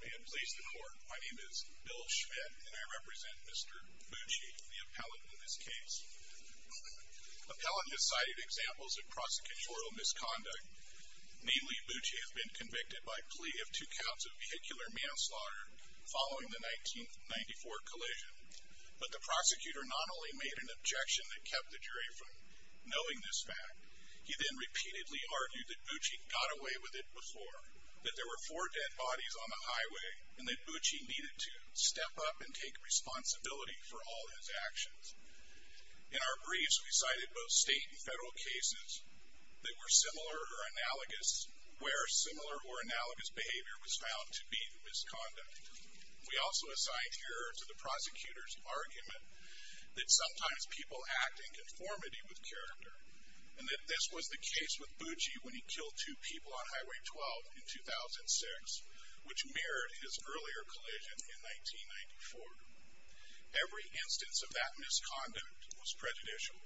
May it please the court, my name is Bill Schmidt and I represent Mr. Bucci, the appellant in this case. Appellant has cited examples of prosecutorial misconduct. Namely, Bucci has been convicted by plea of two counts of vehicular manslaughter following the 1994 collision. But the prosecutor not only made an objection that kept the jury from knowing this fact, he then repeatedly argued that Bucci got away with it before, that there were four dead bodies on the highway and that Bucci needed to step up and take responsibility for all his actions. In our briefs we cited both state and federal cases that were similar or analogous, where similar or analogous behavior was found to be misconduct. We also assign here to the prosecutor's argument that sometimes people act in conformity with character and that this was the case with Bucci when he killed two people on Highway 12 in 2006, which mirrored his earlier collision in 1994. Every instance of that misconduct was prejudicial.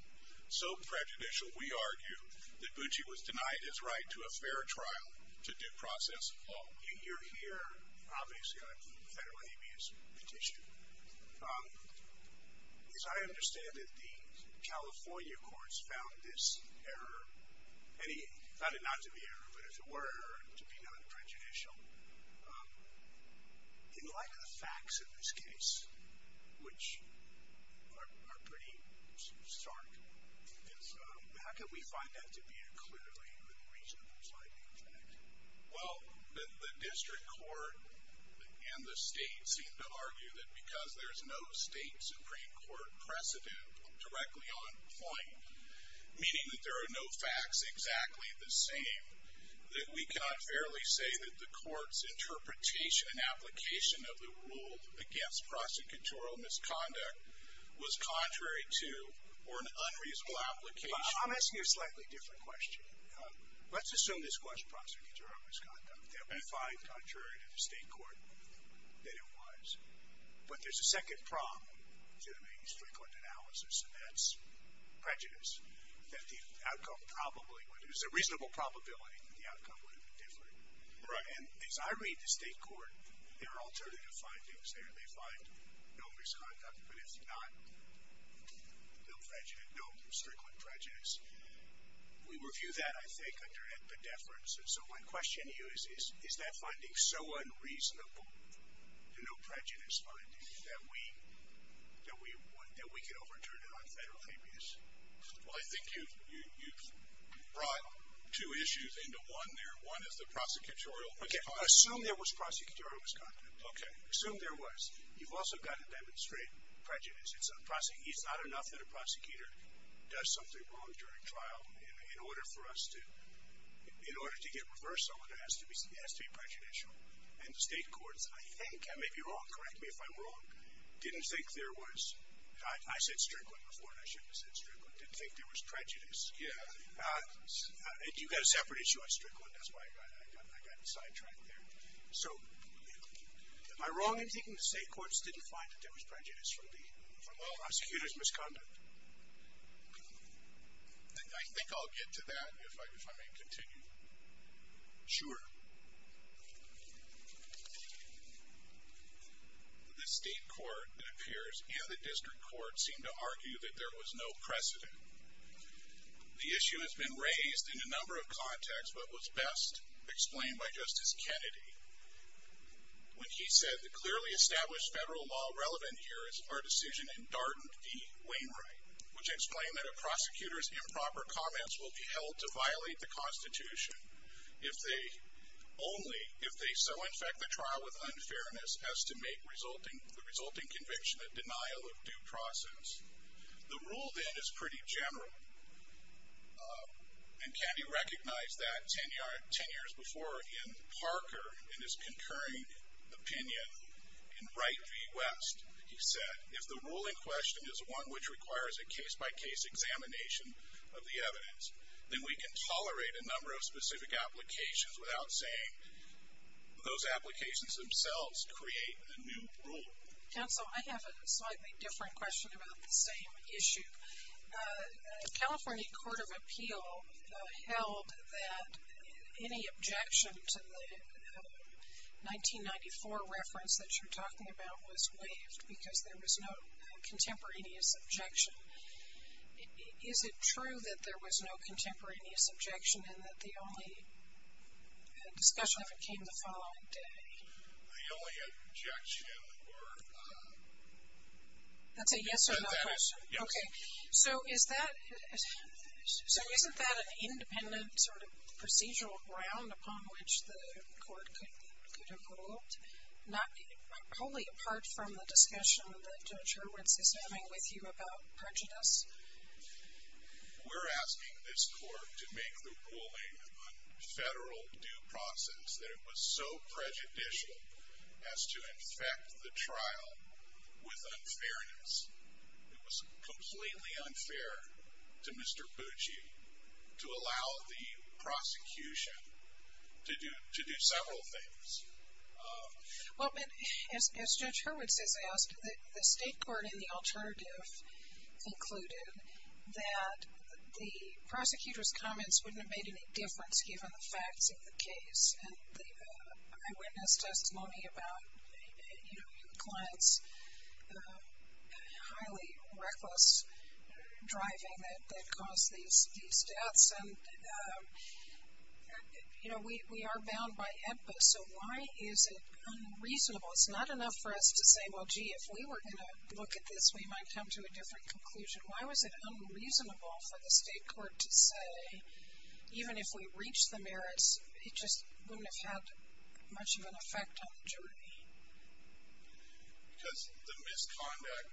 So prejudicial, we argue, that Bucci was denied his right to a fair trial to due process. You're here, obviously, on federal habeas petition. As I understand it, the California courts found this error, and they found it not to be error, but as it were an error to be non-prejudicial. In light of the facts of this case, which are pretty stark, how can we find that to be a clearly reasonable sliding fact? Well, the district court and the state seem to argue that because there's no state Supreme Court precedent directly on point, meaning that there are no facts exactly the same, that we cannot fairly say that the court's interpretation and application of the rule against prosecutorial misconduct was contrary to or an unreasonable application. I'm asking you a slightly different question. Let's assume this question, prosecutorial misconduct, that we find contrary to the state court that it was, but there's a second prong to the main strickland analysis, and that's prejudice, that the outcome probably would have been different. There's a reasonable probability that the outcome would have been different. And as I read the state court, there are alternative findings there. They find no misconduct, but if not, no strickland prejudice. We review that, I think, under epidepheris. And so my question to you is, is that finding so unreasonable, no prejudice finding, that we could overturn it on federal areas? Well, I think you've brought two issues into one there. One is the prosecutorial misconduct. Okay, assume there was prosecutorial misconduct. Okay. Assume there was. You've also got to demonstrate prejudice. It's not enough that a prosecutor does something wrong during trial in order for us to, in order to get reversal, it has to be prejudicial. And the state courts, I think, I may be wrong, correct me if I'm wrong, didn't think there was, I said strickland before and I shouldn't have said strickland, didn't think there was prejudice. You've got a separate issue on strickland. That's why I got sidetracked there. So, am I wrong in thinking the state courts didn't find that there was prejudice from the prosecutor's misconduct? I think I'll get to that if I may continue. Sure. The state court, it appears, and the district court seem to argue that there was no precedent. The issue has been raised in a number of contexts, but what's best explained by Justice Kennedy, when he said, the clearly established federal law relevant here is our decision in Darden v. Wainwright, which explained that a prosecutor's improper comments will be held to violate the Constitution if they only, if they so infect the trial with unfairness, as to make the resulting conviction a denial of due process. The rule then is pretty general. And Kennedy recognized that ten years before in Parker, in his concurring opinion in Wright v. West. He said, if the ruling question is one which requires a case-by-case examination of the evidence, then we can tolerate a number of specific applications without saying those applications themselves create a new rule. Counsel, I have a slightly different question about the same issue. The California Court of Appeal held that any objection to the 1994 reference that you're talking about was waived because there was no contemporaneous objection. Is it true that there was no contemporaneous objection and that the only discussion of it came the following day? The only objection were... That's a yes or no question. Yes. Okay. So is that... So isn't that an independent sort of procedural ground upon which the court could have ruled? Not wholly apart from the discussion that Judge Hurwitz is having with you about prejudice? We're asking this court to make the ruling on federal due process that it was so prejudicial as to infect the trial with unfairness. It was completely unfair to Mr. Pucci to allow the prosecution to do several things. Well, as Judge Hurwitz has asked, the state court in the alternative concluded that the prosecutor's comments wouldn't have made any difference given the facts of the case. And I witnessed testimony about, you know, your client's highly reckless driving that caused these deaths. And, you know, we are bound by EBPA, so why is it unreasonable? It's not enough for us to say, well, gee, if we were going to look at this, we might come to a different conclusion. Why was it unreasonable for the state court to say, even if we reach the merits, it just wouldn't have had much of an effect on the jury? Because the misconduct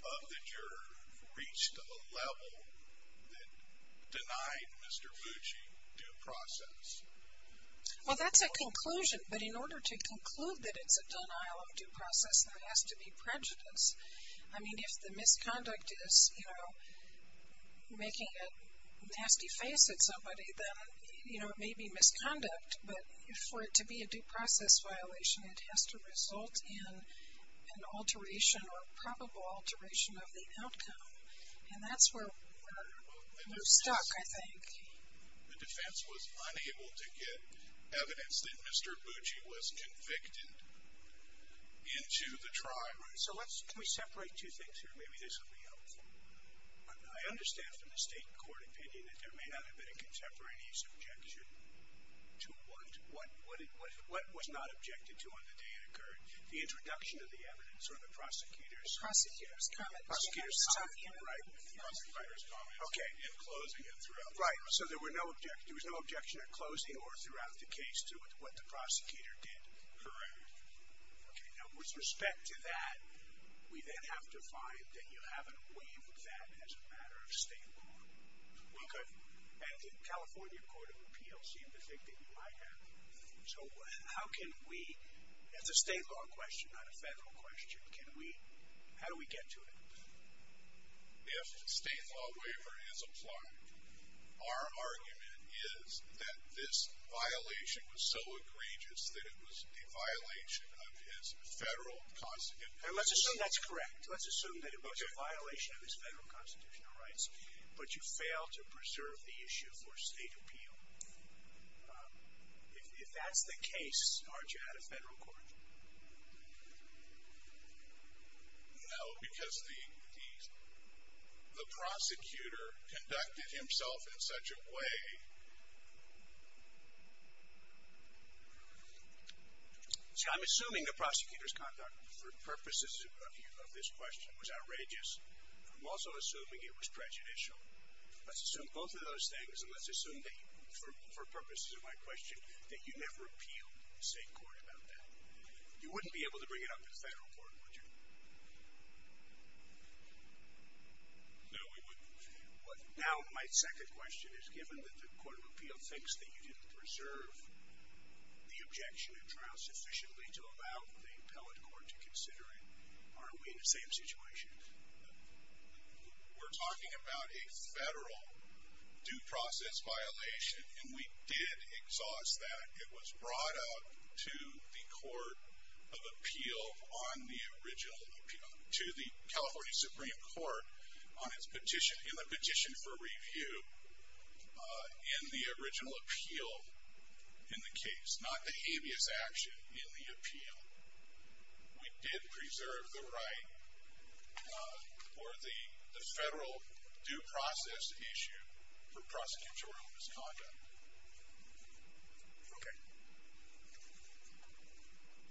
of the juror reached a level that denied Mr. Pucci due process. Well, that's a conclusion, but in order to conclude that it's a denial of due process, there has to be prejudice. I mean, if the misconduct is, you know, making a nasty face at somebody, then, you know, it may be misconduct, but for it to be a due process violation, it has to result in an alteration or probable alteration of the outcome. And that's where we're stuck, I think. The defense was unable to get evidence that Mr. Pucci was convicted into the trial. So let's, can we separate two things here? Maybe this will be helpful. I understand from the state court opinion that there may not have been a contemporaneous objection to what was not objected to on the day it occurred, the introduction of the evidence or the prosecutor's comment in closing it throughout. Right. So there was no objection at closing or throughout the case to what the prosecutor did. Correct. Okay. Now, with respect to that, we then have to find that you haven't waived that as a matter of state law. We could, and the California Court of Appeals seemed to think that you might have. So how can we, as a state law question, not a federal question, can we, how do we get to it? If state law waiver is applied, our argument is that this violation was so egregious that it was a violation of his federal constitutional rights. And let's assume that's correct. Let's assume that it was a violation of his federal constitutional rights, but you failed to preserve the issue for state appeal. If that's the case, aren't you out of federal court? No, because the prosecutor conducted himself in such a way. See, I'm assuming the prosecutor's conduct, for purposes of this question, was outrageous. I'm also assuming it was prejudicial. Let's assume both of those things, and let's assume that, for purposes of my question, that you never appealed to state court about that. You wouldn't be able to bring it up to the federal court, would you? No, we wouldn't. Now, my second question is, given that the Court of Appeals thinks that you didn't preserve the objection in trial sufficiently to allow the appellate court to consider it, aren't we in the same situation? We're talking about a federal due process violation, and we did exhaust that. It was brought out to the California Supreme Court in the petition for review in the original appeal in the case, not the habeas action in the appeal. We did preserve the right for the federal due process issue for prosecutorial misconduct. Okay.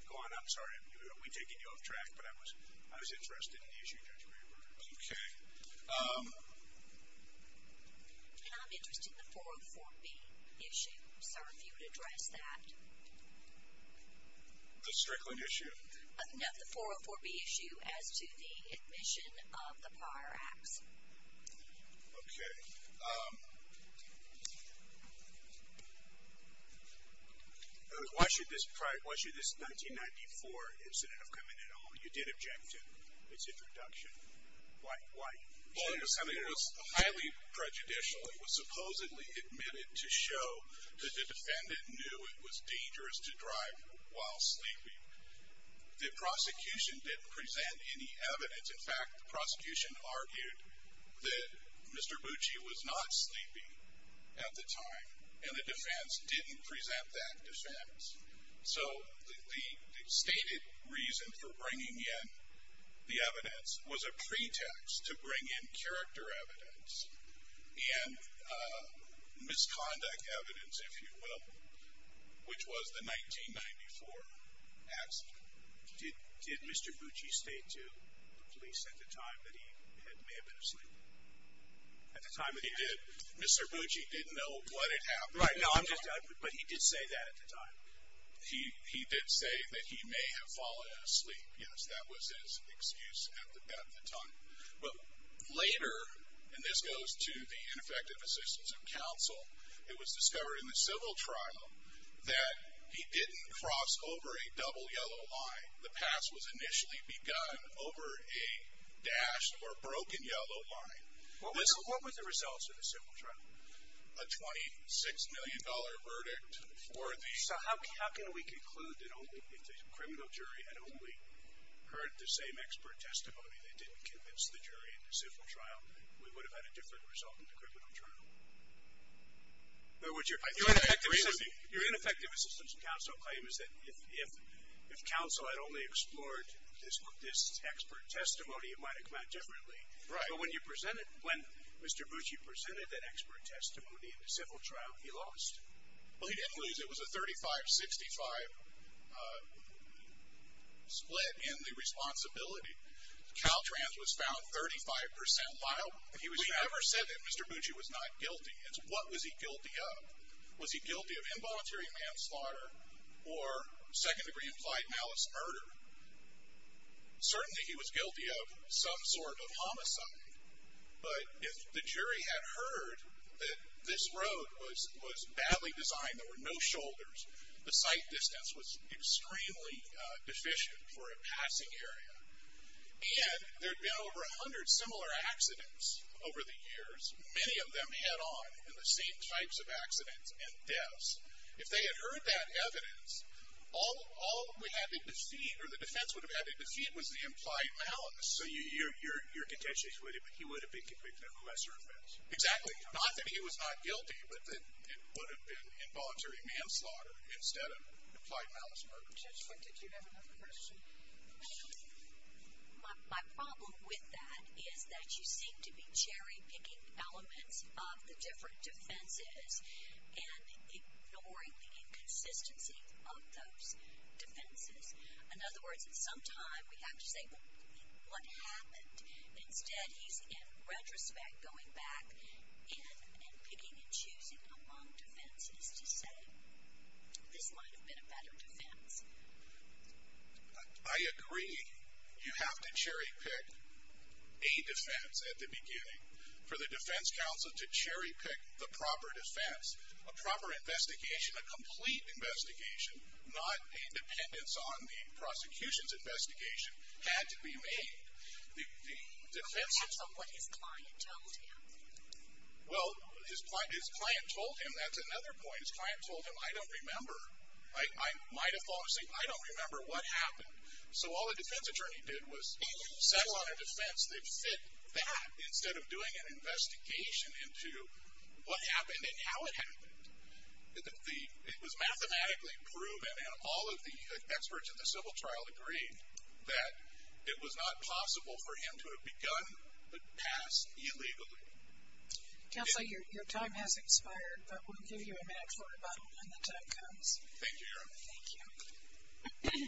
Go on. I'm sorry. We're taking you off track, but I was interested in the issue, Judge Graber. Okay. I'm interested in the 404B issue. I'm sorry if you could address that. The Strickland issue? No, the 404B issue as to the admission of the prior acts. Okay. Why should this 1994 incident have come in at all? You did object to its introduction. Why? Well, it was highly prejudicial. It was supposedly admitted to show that the defendant knew it was dangerous to drive while sleeping. The prosecution didn't present any evidence. In fact, the prosecution argued that Mr. Bucci was not sleeping at the time, and the defense didn't present that defense. So the stated reason for bringing in the evidence was a pretext to bring in character evidence and misconduct evidence, if you will, which was the 1994 accident. Did Mr. Bucci state to the police at the time that he may have been asleep? At the time that he did, Mr. Bucci didn't know what had happened. Right, but he did say that at the time. He did say that he may have fallen asleep. Yes, that was his excuse at the time. But later, and this goes to the ineffective assistance of counsel, it was discovered in the civil trial that he didn't cross over a double yellow line. The pass was initially begun over a dashed or broken yellow line. What were the results of the civil trial? A $26 million verdict for the ---- So how can we conclude that only if the criminal jury had only heard the same expert testimony that didn't convince the jury in the civil trial, we would have had a different result in the criminal trial? Your ineffective assistance of counsel claim is that if counsel had only explored this expert testimony, it might have come out differently. Right. But when Mr. Bucci presented that expert testimony in the civil trial, he lost. Well, he didn't lose. It was a 35-65 split in the responsibility. Caltrans was found 35 percent liable. He never said that Mr. Bucci was not guilty. It's what was he guilty of. Was he guilty of involuntary manslaughter or second-degree implied malice murder? Certainly he was guilty of some sort of homicide. But if the jury had heard that this road was badly designed, there were no shoulders, the sight distance was extremely deficient for a passing area. And there had been over 100 similar accidents over the years, many of them head-on in the same types of accidents and deaths. If they had heard that evidence, all we had to defeat or the defense would have had to defeat was the implied malice. So you're contentious with it, but he would have been convicted of lesser offense. Exactly. Not that he was not guilty, but that it would have been involuntary manslaughter instead of implied malice murder. Judge, did you have another question? My problem with that is that you seem to be cherry-picking elements of the different defenses. And ignoring the inconsistency of those defenses. In other words, at some time we have to say, well, what happened? Instead, he's in retrospect going back in and picking and choosing among defenses to say this might have been a better defense. I agree. You have to cherry-pick a defense at the beginning. For the defense counsel to cherry-pick the proper defense, a proper investigation, a complete investigation, not a dependence on the prosecution's investigation, had to be made. Depends on what his client told him. Well, his client told him. That's another point. His client told him, I don't remember. I might have fallen asleep. I don't remember what happened. So all the defense attorney did was settle on a defense that fit that instead of doing an investigation into what happened and how it happened. It was mathematically proven, and all of the experts at the civil trial agreed, that it was not possible for him to have begun the pass illegally. Counselor, your time has expired. But we'll give you a minute for a rebuttal when the time comes. Thank you, Erin. Thank you.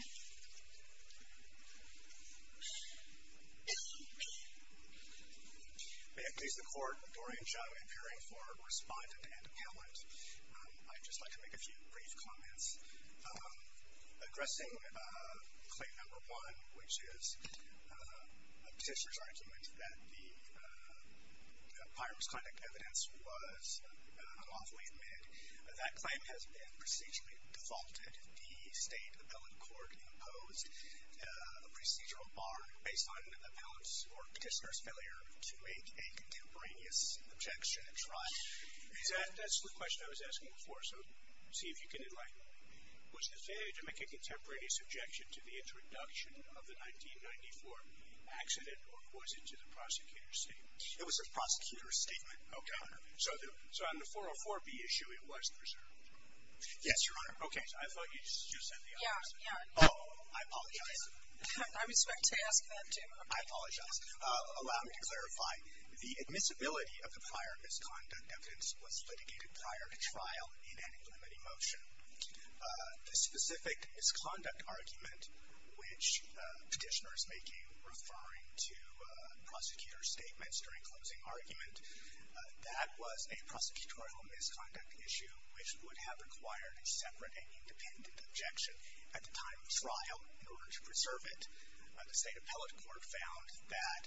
May it please the Court, Dorian Shadow, in appearing for respondent and appellant. I'd just like to make a few brief comments. Addressing claim number one, which is a petitioner's argument that the Pyramus conduct evidence was unlawfully admitted. That claim has been procedurally defaulted. The state appellate court imposed a procedural bar based on the appellant's or petitioner's failure to make a contemporaneous objection at trial. That's the question I was asking before, so see if you can enlighten me. Was the failure to make a contemporaneous objection to the introduction of the 1994 accident or was it to the prosecutor's statement? It was the prosecutor's statement. Okay. So on the 404B issue, it wasn't preserved? Yes, Your Honor. Okay. I thought you just said the opposite. Yeah, yeah. Oh, I apologize. I was going to ask that too. I apologize. Allow me to clarify. The admissibility of the Pyramus conduct evidence was litigated prior to trial in an inclinating motion. The specific misconduct argument which petitioner is making referring to prosecutor's statements during closing argument, that was a prosecutorial misconduct issue which would have required a separate and independent objection at the time of trial in order to preserve it. The state appellate court found that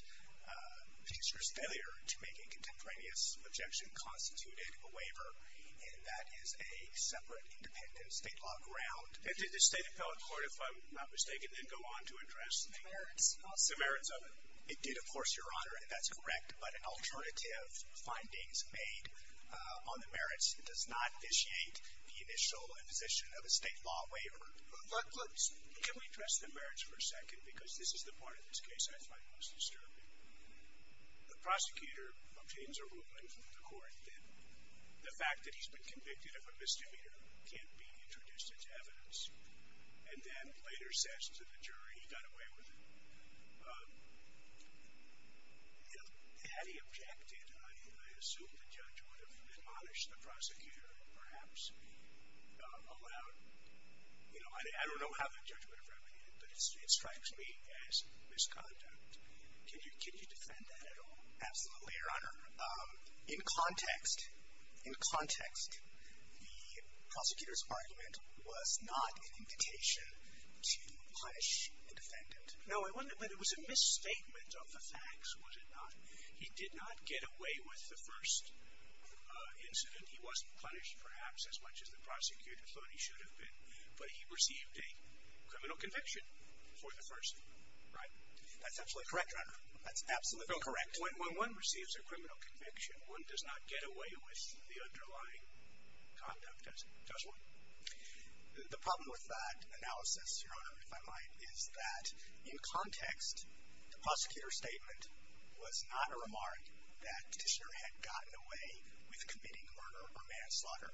petitioner's failure to make a contemporaneous objection constituted a waiver, and that is a separate independent state law ground. And did the state appellate court, if I'm not mistaken, then go on to address the merits of it? It did, of course, Your Honor, and that's correct. But in alternative findings made on the merits, it does not initiate the initial imposition of a state law waiver. Can we address the merits for a second? Because this is the part of this case I find most disturbing. The prosecutor obtains a ruling from the court that the fact that he's been convicted of a misdemeanor can't be introduced into evidence, and then later says to the jury he got away with it. Had he objected, I assume the judge would have admonished the prosecutor, and perhaps allowed, you know, I don't know how the judge would have remedied it, but it strikes me as misconduct. Can you defend that at all? Absolutely, Your Honor. In context, in context, the prosecutor's argument was not an invitation to punish a defendant. No, but it was a misstatement of the facts, was it not? He did not get away with the first incident. He wasn't punished, perhaps, as much as the prosecutor thought he should have been. But he received a criminal conviction for the first one, right? That's absolutely correct, Your Honor. That's absolutely correct. When one receives a criminal conviction, one does not get away with the underlying conduct, does one? The problem with that analysis, Your Honor, if I might, is that in context, the prosecutor's statement was not a remark that the petitioner had gotten away with committing murder or manslaughter.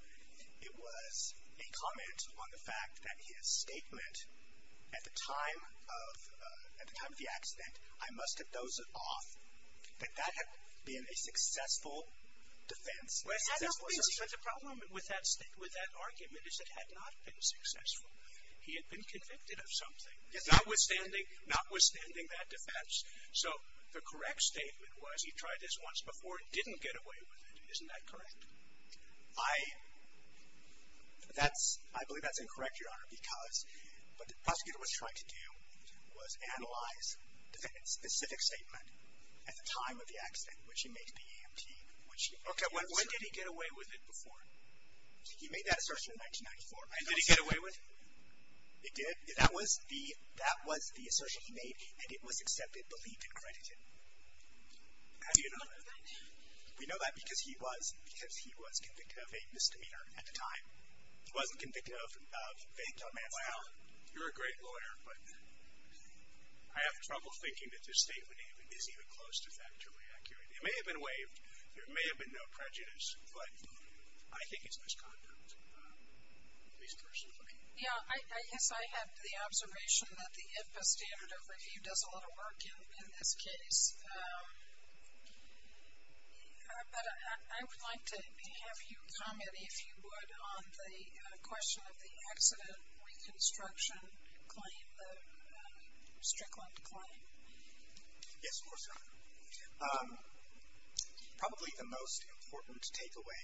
It was a comment on the fact that his statement at the time of the accident, I must have dozed off, that that had been a successful defense. Well, that's not the reason. But the problem with that argument is it had not been successful. He had been convicted of something, notwithstanding that defense. So the correct statement was he tried this once before and didn't get away with it. Isn't that correct? I believe that's incorrect, Your Honor, because what the prosecutor was trying to do was analyze the specific statement at the time of the accident, which he made to the EMT. Okay, when did he get away with it before? He made that assertion in 1994. Did he get away with it? He did. That was the assertion he made, and it was accepted, believed, and credited. How do you know that? We know that because he was convicted of a misdemeanor at the time. He wasn't convicted of vague domestic violence. Wow, you're a great lawyer, but I have trouble thinking that this statement is even close to factually accurate. It may have been waived. There may have been no prejudice, but I think it's misconduct, at least personally. Yeah, I guess I have the observation that the IPA standard of review does a lot of work in this case. But I would like to have you comment, if you would, on the question of the accident reconstruction claim, the Strickland claim. Yes, of course, Your Honor. Probably the most important takeaway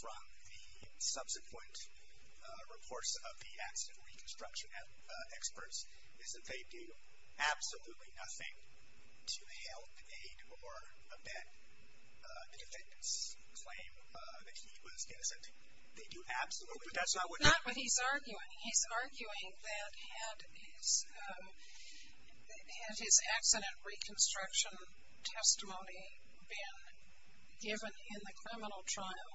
from the subsequent reports of the accident reconstruction experts is that they do absolutely nothing to help, aid, or amend the defendant's claim that he was innocent. They do absolutely nothing. But that's not what he's arguing. He's arguing that had his accident reconstruction testimony been given in the criminal trial,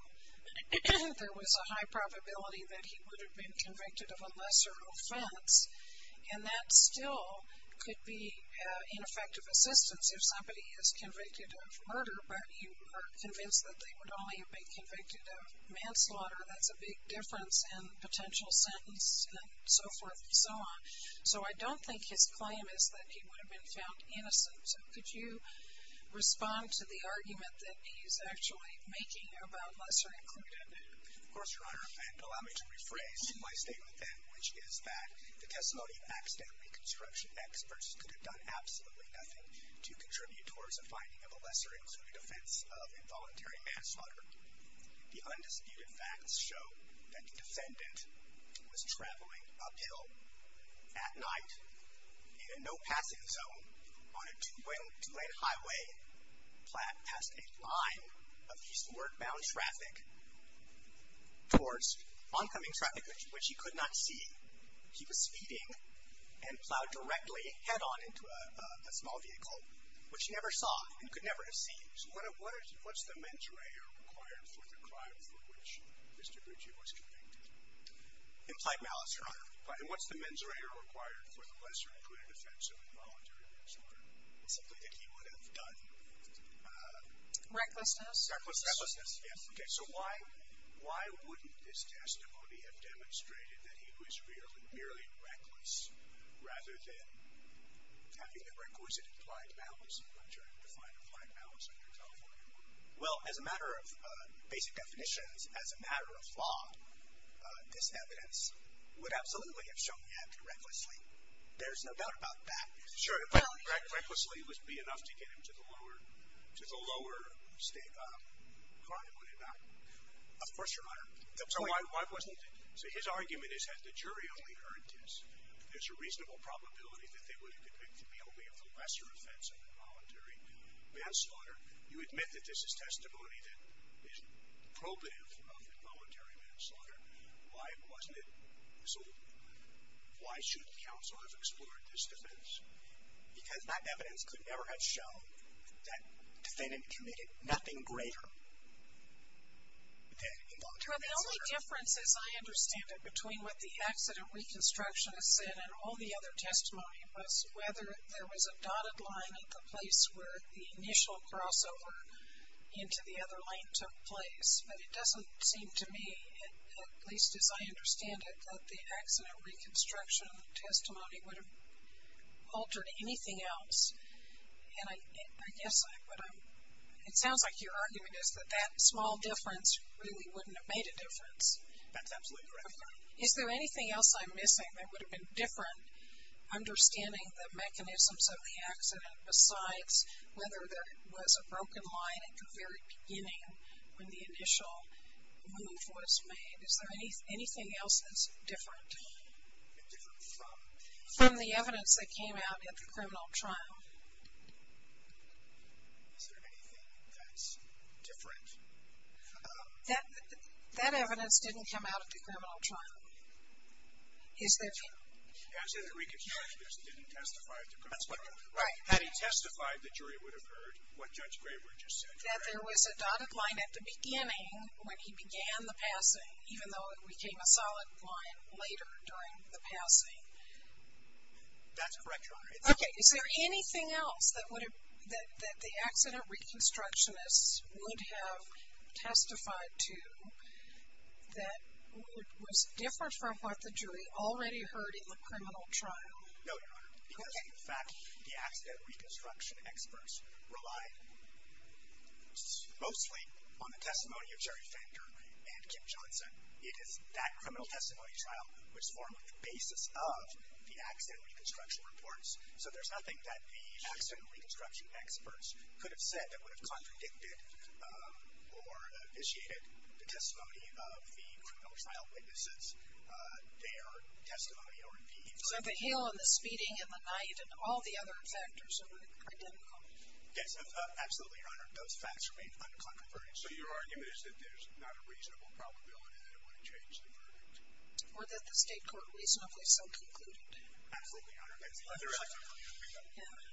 there was a high probability that he would have been convicted of a lesser offense. And that still could be ineffective assistance if somebody is convicted of murder, but you are convinced that they would only have been convicted of manslaughter. That's a big difference in potential sentence and so forth and so on. So I don't think his claim is that he would have been found innocent. So could you respond to the argument that he's actually making about lesser included? Of course, Your Honor. And allow me to rephrase my statement then, which is that the testimony of accident reconstruction experts could have done absolutely nothing to contribute towards a finding of a lesser included offense of involuntary manslaughter. The undisputed facts show that the defendant was traveling uphill at night in a no-passing zone on a two-lane highway past a line of eastward-bound traffic towards oncoming traffic, which he could not see. He was speeding and plowed directly head-on into a small vehicle, which he never saw and could never have seen. So what's the mens rea required for the crime for which Mr. Briggi was convicted? Implied malice, Your Honor. And what's the mens re required for the lesser included offense of involuntary manslaughter? Something that he would have done. Recklessness. Recklessness, yes. Okay, so why wouldn't this testimony have demonstrated that he was merely reckless rather than having a requisite implied malice? I'm trying to find implied malice under California law. Well, as a matter of basic definitions, as a matter of law, this evidence would absolutely have shown he acted recklessly. There's no doubt about that. Sure, but recklessly would be enough to get him to the lower state court, would it not? Of course, Your Honor. So why wasn't it? So his argument is that the jury only heard this. There's a reasonable probability that they would have depicted the only lesser offense of involuntary manslaughter. You admit that this is testimony that is probative of involuntary manslaughter. Why wasn't it? So why should counsel have explored this defense? Because that evidence could never have shown that the defendant committed nothing greater than involuntary manslaughter. The only difference, as I understand it, between what the accident reconstructionist said and all the other testimony was whether there was a dotted line at the place where the initial crossover into the other lane took place. But it doesn't seem to me, at least as I understand it, that the accident reconstruction testimony would have altered anything else. And I guess I would have ‑‑ it sounds like your argument is that that small difference really wouldn't have made a difference. That's absolutely correct, Your Honor. Is there anything else I'm missing that would have been different? Understanding the mechanisms of the accident, besides whether there was a broken line at the very beginning when the initial move was made. Is there anything else that's different? Different from? From the evidence that came out at the criminal trial. Is there anything that's different? That evidence didn't come out at the criminal trial. Is there? The accident reconstructionist didn't testify at the criminal trial. Right. Had he testified, the jury would have heard what Judge Graber just said. That there was a dotted line at the beginning when he began the passing, even though it became a solid line later during the passing. That's correct, Your Honor. Okay. Is there anything else that the accident reconstructionist would have testified to that was different from what the jury already heard in the criminal trial? No, Your Honor. Okay. Because, in fact, the accident reconstruction experts relied mostly on the testimony of Jerry Fender and Kim Johnson. It is that criminal testimony trial which formed the basis of the accident reconstruction reports. So there's nothing that the accident reconstruction experts could have said that would have contradicted or initiated the testimony of the criminal trial witnesses, their testimony or indeed. So the hail and the speeding and the night and all the other factors are identical? Yes, absolutely, Your Honor. Those facts remain uncontroverted. So your argument is that there's not a reasonable probability that it would have changed the verdict? Or that the state court reasonably so concluded? Absolutely, Your Honor.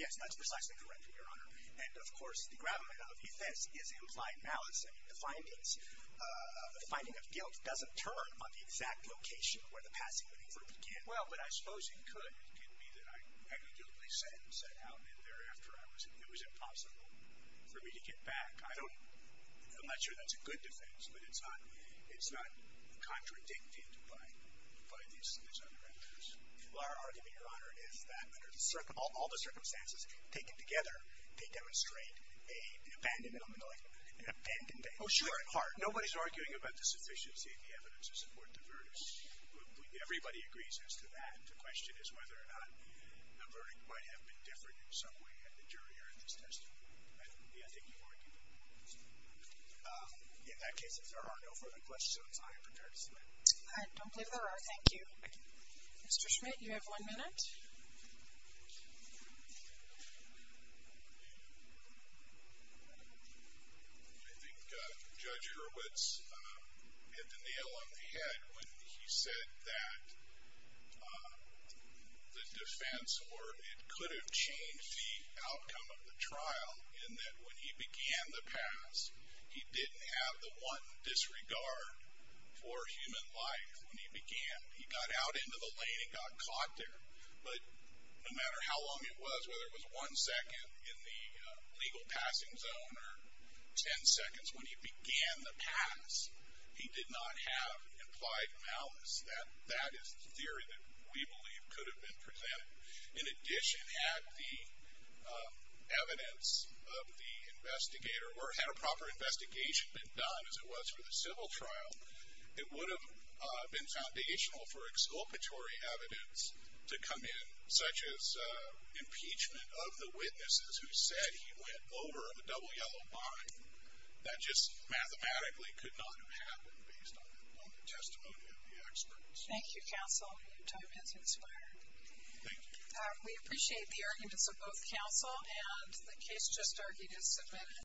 Yes, that's precisely correct, Your Honor. And, of course, the gravamen of defense is implied malice. I mean, the finding of guilt doesn't turn on the exact location where the passing of the verdict can. Well, but I suppose it could. It could be that I negligibly sent and set out and thereafter it was impossible for me to get back. I'm not sure that's a good defense, but it's not contradicted by these other evidence. Well, our argument, Your Honor, is that under all the circumstances taken together, they demonstrate an abandonment of malice, an abandonment. Oh, sure. At heart. Nobody's arguing about the sufficiency of the evidence to support the verdict. Everybody agrees as to that. The question is whether or not the verdict might have been different in some way in the jury or in this testimony. I think you've argued that. In that case, if there are no further questions, I am prepared to submit. All right. Don't believe there are. Thank you. Mr. Schmidt, you have one minute. I think Judge Hurwitz hit the nail on the head when he said that the defense or it could have changed the outcome of the trial in that when he began the pass, he didn't have the one disregard for human life when he began. He got out into the lane and got caught there. But no matter how long it was, whether it was one second in the legal passing zone or ten seconds when he began the pass, he did not have implied malice. That is the theory that we believe could have been presented. In addition, had the evidence of the investigator or had a proper investigation been done as it was for the civil trial, it would have been foundational for exculpatory evidence to come in, such as impeachment of the witnesses who said he went over a double yellow line. That just mathematically could not have happened based on the testimony of the experts. Thank you, counsel. Your time has expired. Thank you. We appreciate the arguments of both counsel and the case just argued is submitted.